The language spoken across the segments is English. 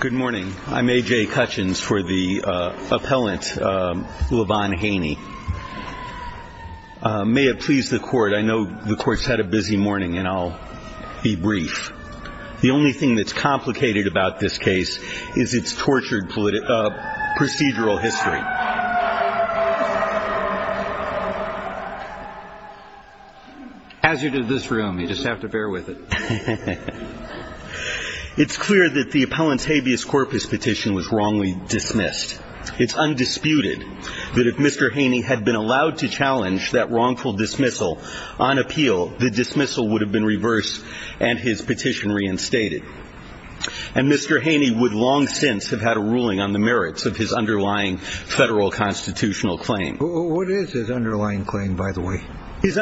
Good morning. I'm A.J. Cutchins for the appellant, LeVon Haney. May it please the court, I know the court's had a busy morning and I'll be brief. The only thing that's complicated about this case is its tortured procedural history. As you do this room, you just have to bear with it. It's clear that the appellant's habeas corpus petition was wrongly dismissed. It's undisputed that if Mr. Haney had been allowed to challenge that wrongful dismissal on appeal, the dismissal would have been reversed and his petition reinstated. And Mr. Haney would long since have had a ruling on the merits of his underlying federal constitutional claim. What is his underlying claim, by the way? His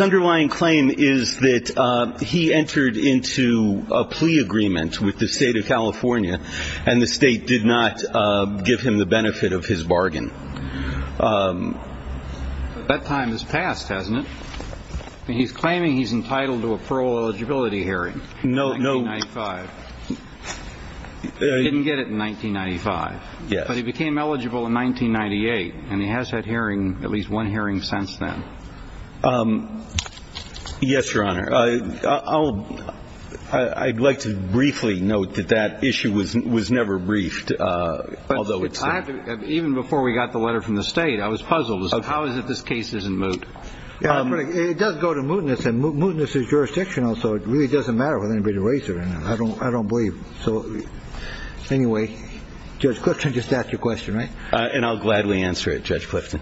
underlying claim is that he entered into a plea agreement with the state of California and the state did not give him the benefit of his bargain. But that time has passed, hasn't it? He's claiming he's entitled to a parole eligibility hearing. No, no. In 1995. He didn't get it in 1995. Yes. But he became eligible in 1998 and he has had hearing, at least one hearing since then. Yes, Your Honor. I'd like to briefly note that that issue was never briefed, although it's there. Even before we got the letter from the state, I was puzzled. So how is it this case isn't moot? It does go to mootness and mootness is jurisdictional. So it really doesn't matter with anybody to raise it. I don't I don't believe. So anyway, Judge Clifton, just ask your question. And I'll gladly answer it. Judge Clifton.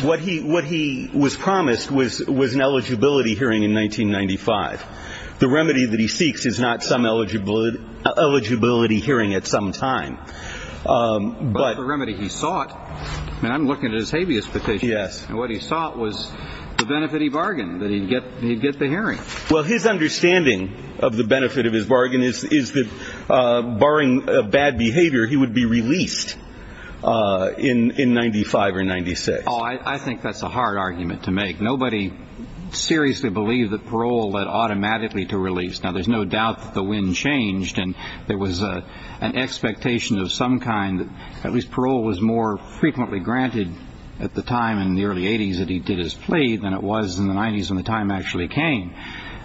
What he what he was promised was was an eligibility hearing in 1995. The remedy that he seeks is not some eligible eligibility hearing at some time. But the remedy he sought and I'm looking at his habeas petition. Yes. And what he sought was the benefit. He bargained that he'd get he'd get the hearing. Well, his understanding of the benefit of his bargain is that barring bad behavior, he would be released in 95 or 96. Oh, I think that's a hard argument to make. Nobody seriously believe that parole led automatically to release. Now, there's no doubt that the wind changed and there was an expectation of some kind. At least parole was more frequently granted at the time in the early 80s that he did his plea than it was in the 90s. And the time actually came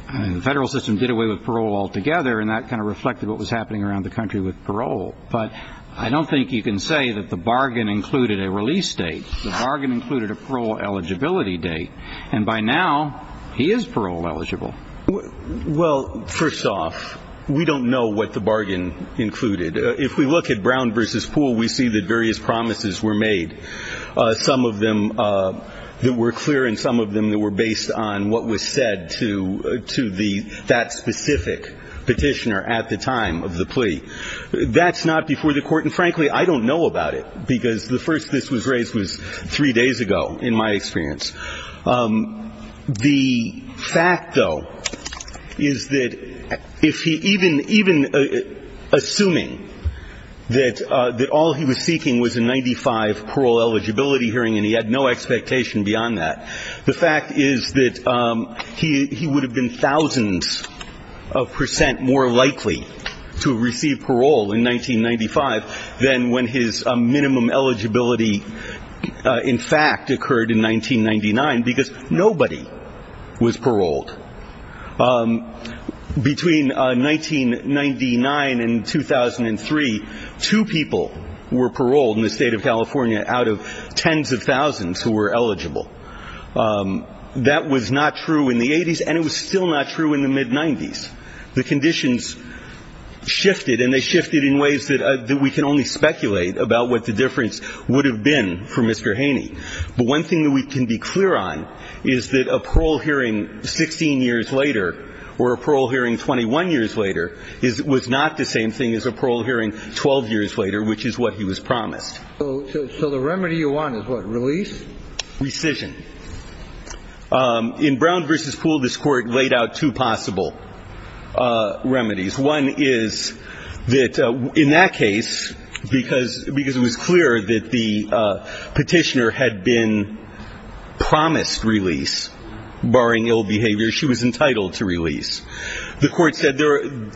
and the federal system did away with parole altogether. And that kind of reflected what was happening around the country with parole. But I don't think you can say that the bargain included a release date. The bargain included a parole eligibility date. And by now he is parole eligible. Well, first off, we don't know what the bargain included. If we look at Brown versus Poole, we see that various promises were made. Some of them that were clear and some of them that were based on what was said to to the that specific petitioner at the time of the plea. That's not before the court. And frankly, I don't know about it because the first this was raised was three days ago, in my experience. The fact, though, is that if he even assuming that all he was seeking was a 95 parole eligibility hearing and he had no expectation beyond that, the fact is that he would have been thousands of percent more likely to receive parole in 1995 than when his minimum eligibility in fact occurred in 1999 because nobody was paroled. Between 1999 and 2003, two people were paroled in the state of California out of tens of thousands who were eligible. That was not true in the 80s and it was still not true in the mid 90s. The conditions shifted and they shifted in ways that we can only speculate about what the difference would have been for Mr. Haney. But one thing that we can be clear on is that a parole hearing 16 years later or a parole hearing 21 years later was not the same thing as a parole hearing 12 years later, which is what he was promised. So the remedy you want is what? Release? Rescission. In Brown v. Poole, this Court laid out two possible remedies. One is that in that case, because it was clear that the petitioner had been promised release, barring ill behavior, she was entitled to release. The Court said,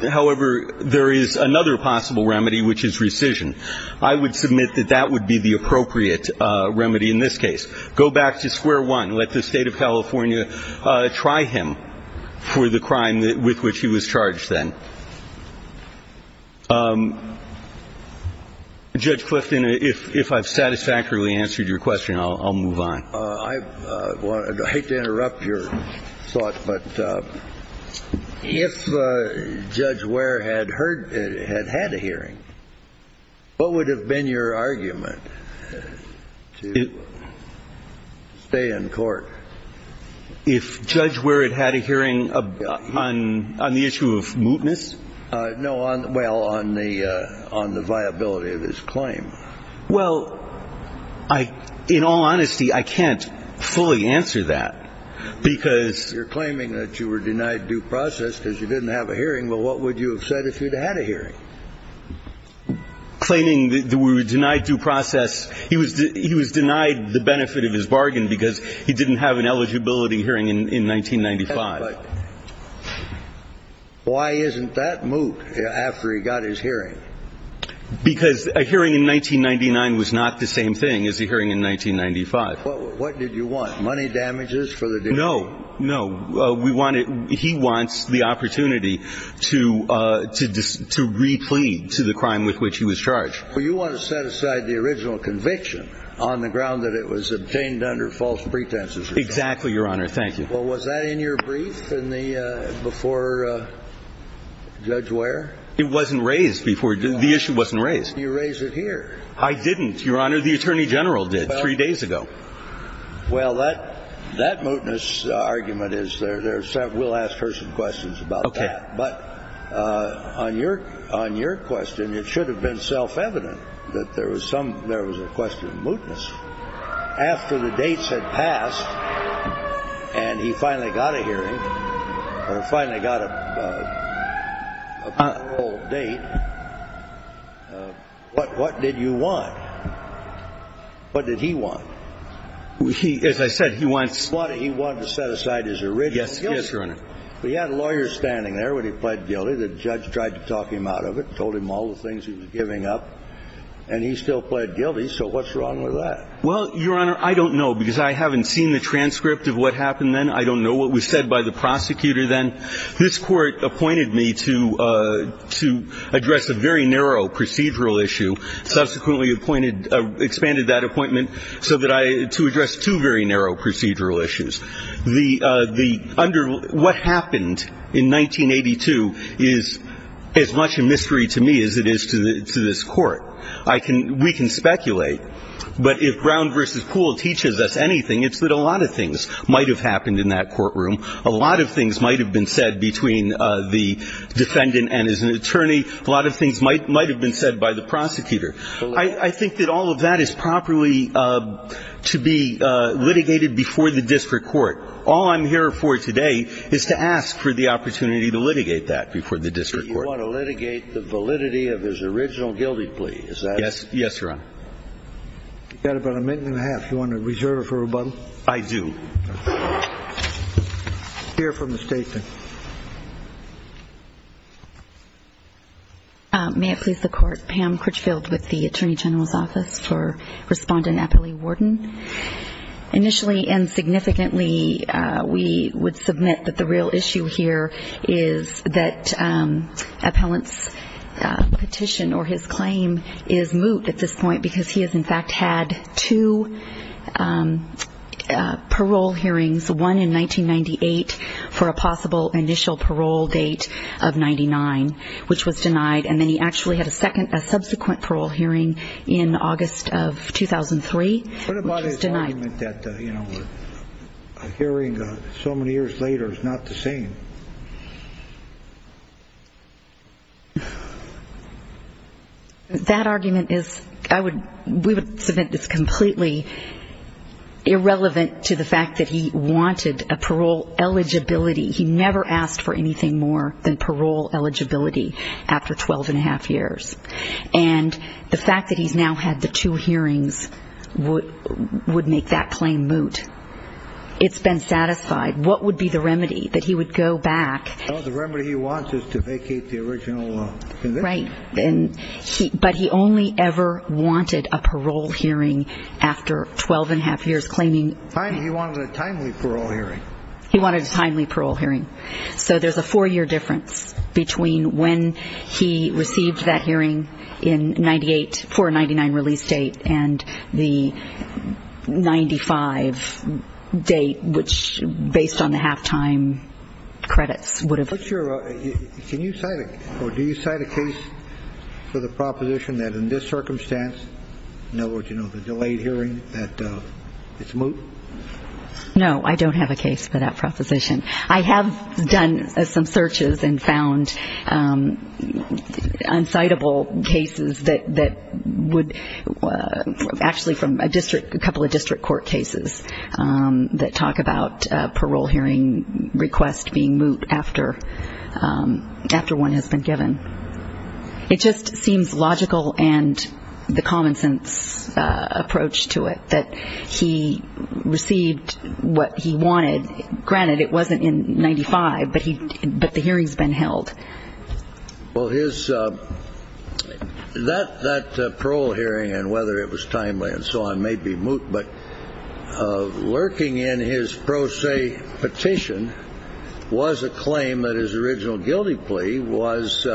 however, there is another possible remedy, which is rescission. I would submit that that would be the appropriate remedy in this case. Go back to square one. Let the state of California try him for the crime with which he was charged then. Judge Clifton, if I've satisfactorily answered your question, I'll move on. I hate to interrupt your thought, but if Judge Ware had heard ‑‑ had had a hearing, what would have been your argument to stay in court? If Judge Ware had had a hearing on the issue of mootness? No, well, on the viability of his claim. Well, I ‑‑ in all honesty, I can't fully answer that because ‑‑ You're claiming that you were denied due process because you didn't have a hearing. Well, what would you have said if you'd had a hearing? Claiming that we were denied due process. He was denied the benefit of his bargain because he didn't have an eligibility hearing in 1995. Why isn't that moot after he got his hearing? Because a hearing in 1999 was not the same thing as a hearing in 1995. What did you want, money damages for the ‑‑ No, no. We wanted ‑‑ he wants the opportunity to ‑‑ to replead to the crime with which he was charged. Well, you want to set aside the original conviction on the ground that it was obtained under false pretenses. Exactly, Your Honor. Thank you. Well, was that in your brief in the ‑‑ before Judge Ware? It wasn't raised before ‑‑ the issue wasn't raised. You raised it here. I didn't, Your Honor. The Attorney General did three days ago. Well, that mootness argument is there. We'll ask her some questions about that. Okay. But on your question, it should have been self‑evident that there was some ‑‑ there was a question of mootness. After the dates had passed and he finally got a hearing, or finally got a parole date, what did you want? What did he want? As I said, he wants ‑‑ He wanted to set aside his original guilt. Yes, Your Honor. He had a lawyer standing there when he pled guilty. The judge tried to talk him out of it, told him all the things he was giving up, and he still pled guilty. So what's wrong with that? Well, Your Honor, I don't know, because I haven't seen the transcript of what happened then. I don't know what was said by the prosecutor then. This Court appointed me to address a very narrow procedural issue, subsequently appointed ‑‑ expanded that appointment so that I ‑‑ to address two very narrow procedural issues. The ‑‑ what happened in 1982 is as much a mystery to me as it is to this Court. I can ‑‑ we can speculate. But if Brown v. Poole teaches us anything, it's that a lot of things might have happened in that courtroom. A lot of things might have been said between the defendant and his attorney. A lot of things might have been said by the prosecutor. I think that all of that is properly to be litigated before the district court. All I'm here for today is to ask for the opportunity to litigate that before the district court. I want to litigate the validity of his original guilty plea. Is that it? Yes, Your Honor. You've got about a minute and a half. Do you want to reserve it for rebuttal? I do. Hear from the statement. May it please the Court. Pam Critchfield with the Attorney General's Office for Respondent Eppley Wharton. Initially and significantly, we would submit that the real issue here is that Appellant's petition or his claim is moot at this point because he has in fact had two parole hearings, one in 1998 for a possible initial parole date of 99, which was denied. And then he actually had a subsequent parole hearing in August of 2003. What about his argument that a hearing so many years later is not the same? That argument is completely irrelevant to the fact that he wanted a parole eligibility. He never asked for anything more than parole eligibility after 12 1⁄2 years. And the fact that he's now had the two hearings would make that claim moot. It's been satisfied. What would be the remedy that he would go back? The remedy he wants is to vacate the original conviction. Right. But he only ever wanted a parole hearing after 12 1⁄2 years claiming. He wanted a timely parole hearing. He wanted a timely parole hearing. So there's a four-year difference between when he received that hearing in 98 for a 99 release date and the 95 date, which based on the halftime credits would have been. Can you cite or do you cite a case for the proposition that in this circumstance, in other words, you know, the delayed hearing, that it's moot? No, I don't have a case for that proposition. I have done some searches and found uncitable cases that would actually from a district, a couple of district court cases that talk about parole hearing request being moot after one has been given. It just seems logical and the common sense approach to it that he received what he wanted. Granted, it wasn't in 95, but the hearing's been held. Well, that parole hearing and whether it was timely and so on may be moot, but lurking in his pro se petition was a claim that his original guilty plea was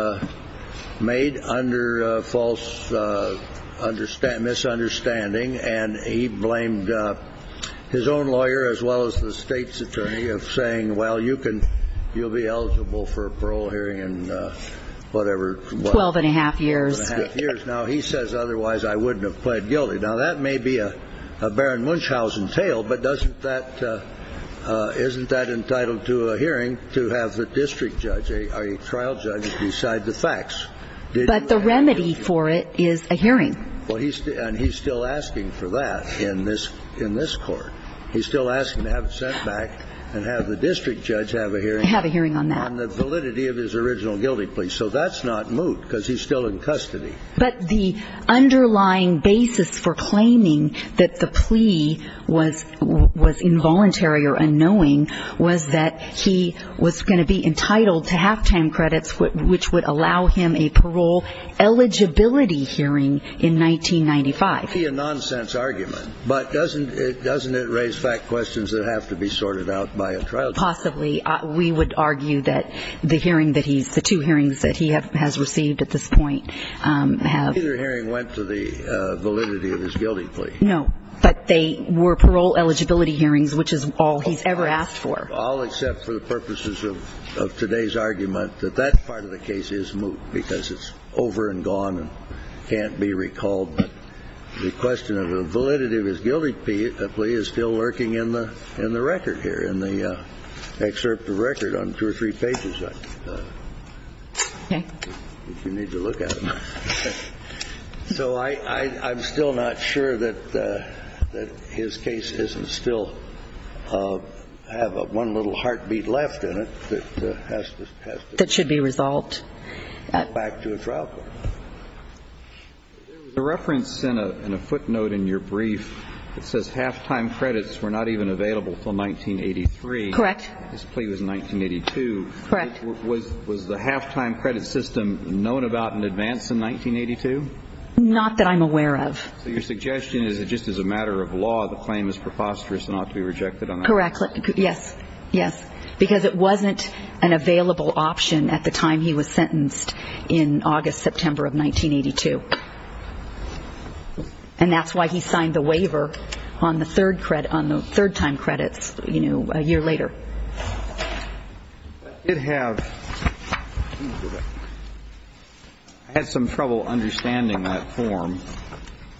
made under false misunderstanding, and he blamed his own lawyer as well as the state's attorney of saying, well, you'll be eligible for a parole hearing in whatever. Twelve and a half years. Twelve and a half years. Now, he says otherwise I wouldn't have pled guilty. Now, that may be a Baron Munchhausen tale, but isn't that entitled to a hearing to have the district judge, a trial judge, decide the facts? But the remedy for it is a hearing. And he's still asking for that in this court. He's still asking to have it sent back and have the district judge have a hearing. Have a hearing on that. On the validity of his original guilty plea. So that's not moot because he's still in custody. But the underlying basis for claiming that the plea was involuntary or unknowing was that he was going to be entitled to halftime credits, which would allow him a parole eligibility hearing in 1995. It may be a nonsense argument, but doesn't it raise fact questions that have to be sorted out by a trial judge? Possibly. We would argue that the hearing that he's the two hearings that he has received at this point have. Neither hearing went to the validity of his guilty plea. No. But they were parole eligibility hearings, which is all he's ever asked for. All except for the purposes of today's argument, that that part of the case is moot because it's over and gone and can't be recalled. The question of the validity of his guilty plea is still lurking in the record here, in the excerpt of record on two or three pages. If you need to look at it. So I'm still not sure that his case doesn't still have one little heartbeat left in it that has to. That should be resolved. Go back to a trial court. There was a reference in a footnote in your brief that says halftime credits were not even available until 1983. Correct. This plea was in 1982. Correct. Was the halftime credit system known about in advance in 1982? Not that I'm aware of. So your suggestion is that just as a matter of law, the claim is preposterous and ought to be rejected? Correct. Yes. Yes. Because it wasn't an available option at the time he was sentenced in August, September of 1982. And that's why he signed the waiver on the third time credits a year later. I did have some trouble understanding that form.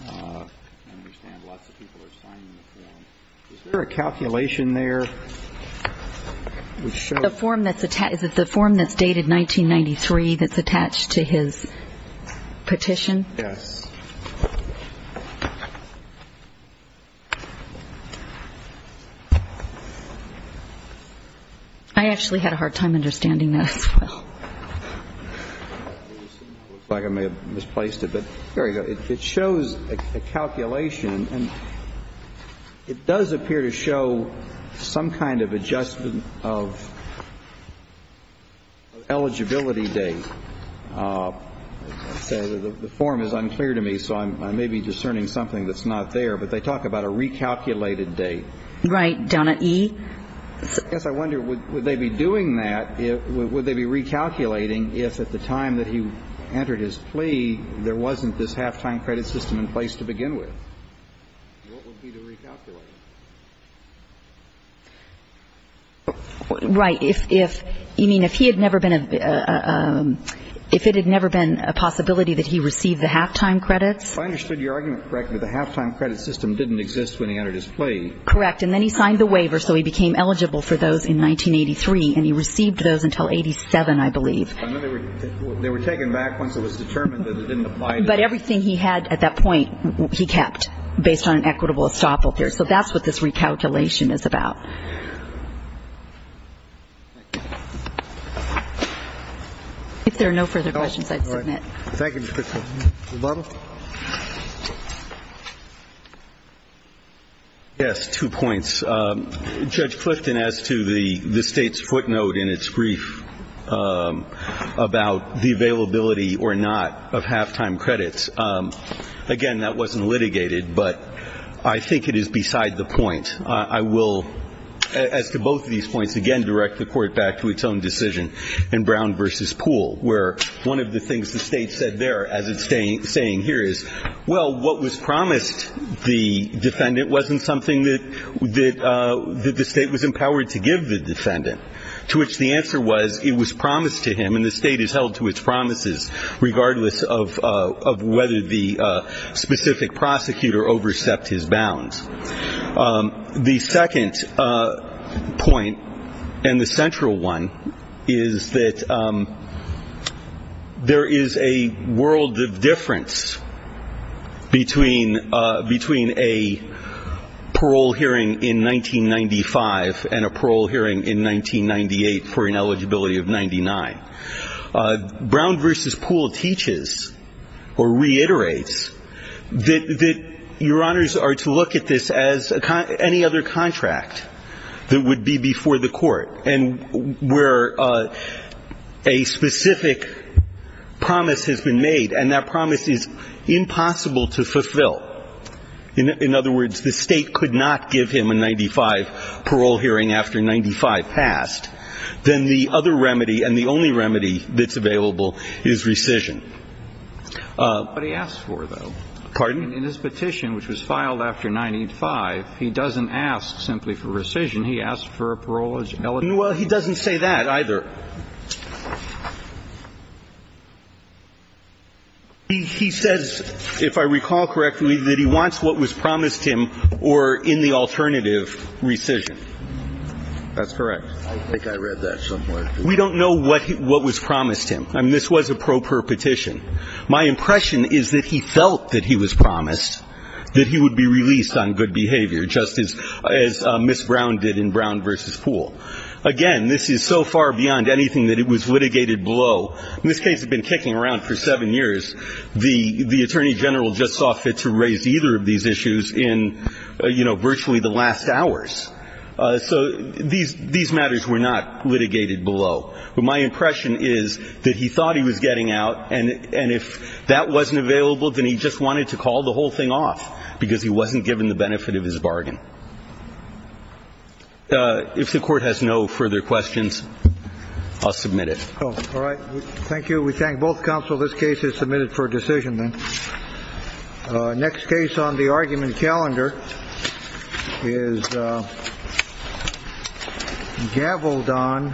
I understand lots of people are signing the form. Is there a calculation there? Is it the form that's dated 1993 that's attached to his petition? Yes. I actually had a hard time understanding that as well. Looks like I may have misplaced it, but there you go. It shows a calculation, and it does appear to show some kind of adjustment of eligibility date. The form is unclear to me, so I may be discerning something that's not there. But they talk about a recalculated date. Right. Donna E.? Yes. I wonder, would they be doing that, would they be recalculating if at the time that he entered his plea, there wasn't this halftime credit system in place to begin with? What would be the recalculation? Right. You mean if it had never been a possibility that he received the halftime credits? I understood your argument correctly. The halftime credit system didn't exist when he entered his plea. Correct. And then he signed the waiver, so he became eligible for those in 1983, and he received those until 87, I believe. They were taken back once it was determined that it didn't apply. But everything he had at that point he kept based on an equitable estoppel period. So that's what this recalculation is about. If there are no further questions, I'd submit. Thank you, Ms. Critchfield. Mr. Butler? Yes, two points. Judge Clifton, as to the State's footnote in its brief about the availability or not of halftime credits, again, that wasn't litigated, but I think it is beside the point. I will, as to both of these points, again, direct the Court back to its own decision in Brown v. Poole, where one of the things the State said there as it's saying here is, well, what was promised the defendant wasn't something that the State was empowered to give the defendant, to which the answer was it was promised to him, and the State has held to its promises regardless of whether the specific prosecutor overstepped his bounds. The second point, and the central one, is that there is a world of difference between a parole hearing in 1995 and a parole hearing in 1998 for an eligibility of 99. Brown v. Poole teaches or reiterates that Your Honors are to look at this as any other contract that would be before the Court, and where a specific promise has been made, and that promise is impossible to fulfill. In other words, the State could not give him a 95 parole hearing after 95 passed, then the other remedy and the only remedy that's available is rescission. But he asked for, though. Pardon? In his petition, which was filed after 95, he doesn't ask simply for rescission. He asked for a parole eligibility. Well, he doesn't say that either. He says, if I recall correctly, that he wants what was promised him or in the alternative, rescission. That's correct. I think I read that somewhere. We don't know what was promised him. I mean, this was a pro per petition. My impression is that he felt that he was promised that he would be released on good behavior, just as Ms. Brown did in Brown v. Poole. Again, this is so far beyond anything that it was litigated below. In this case, it had been kicking around for seven years. The Attorney General just saw fit to raise either of these issues in, you know, virtually the last hours. So these matters were not litigated below. But my impression is that he thought he was getting out, and if that wasn't available, then he just wanted to call the whole thing off because he wasn't given the benefit of his bargain. If the Court has no further questions, I'll submit it. All right. Thank you. We thank both counsel. This case is submitted for decision, then. Next case on the argument calendar is Gavaldon v. Canberra.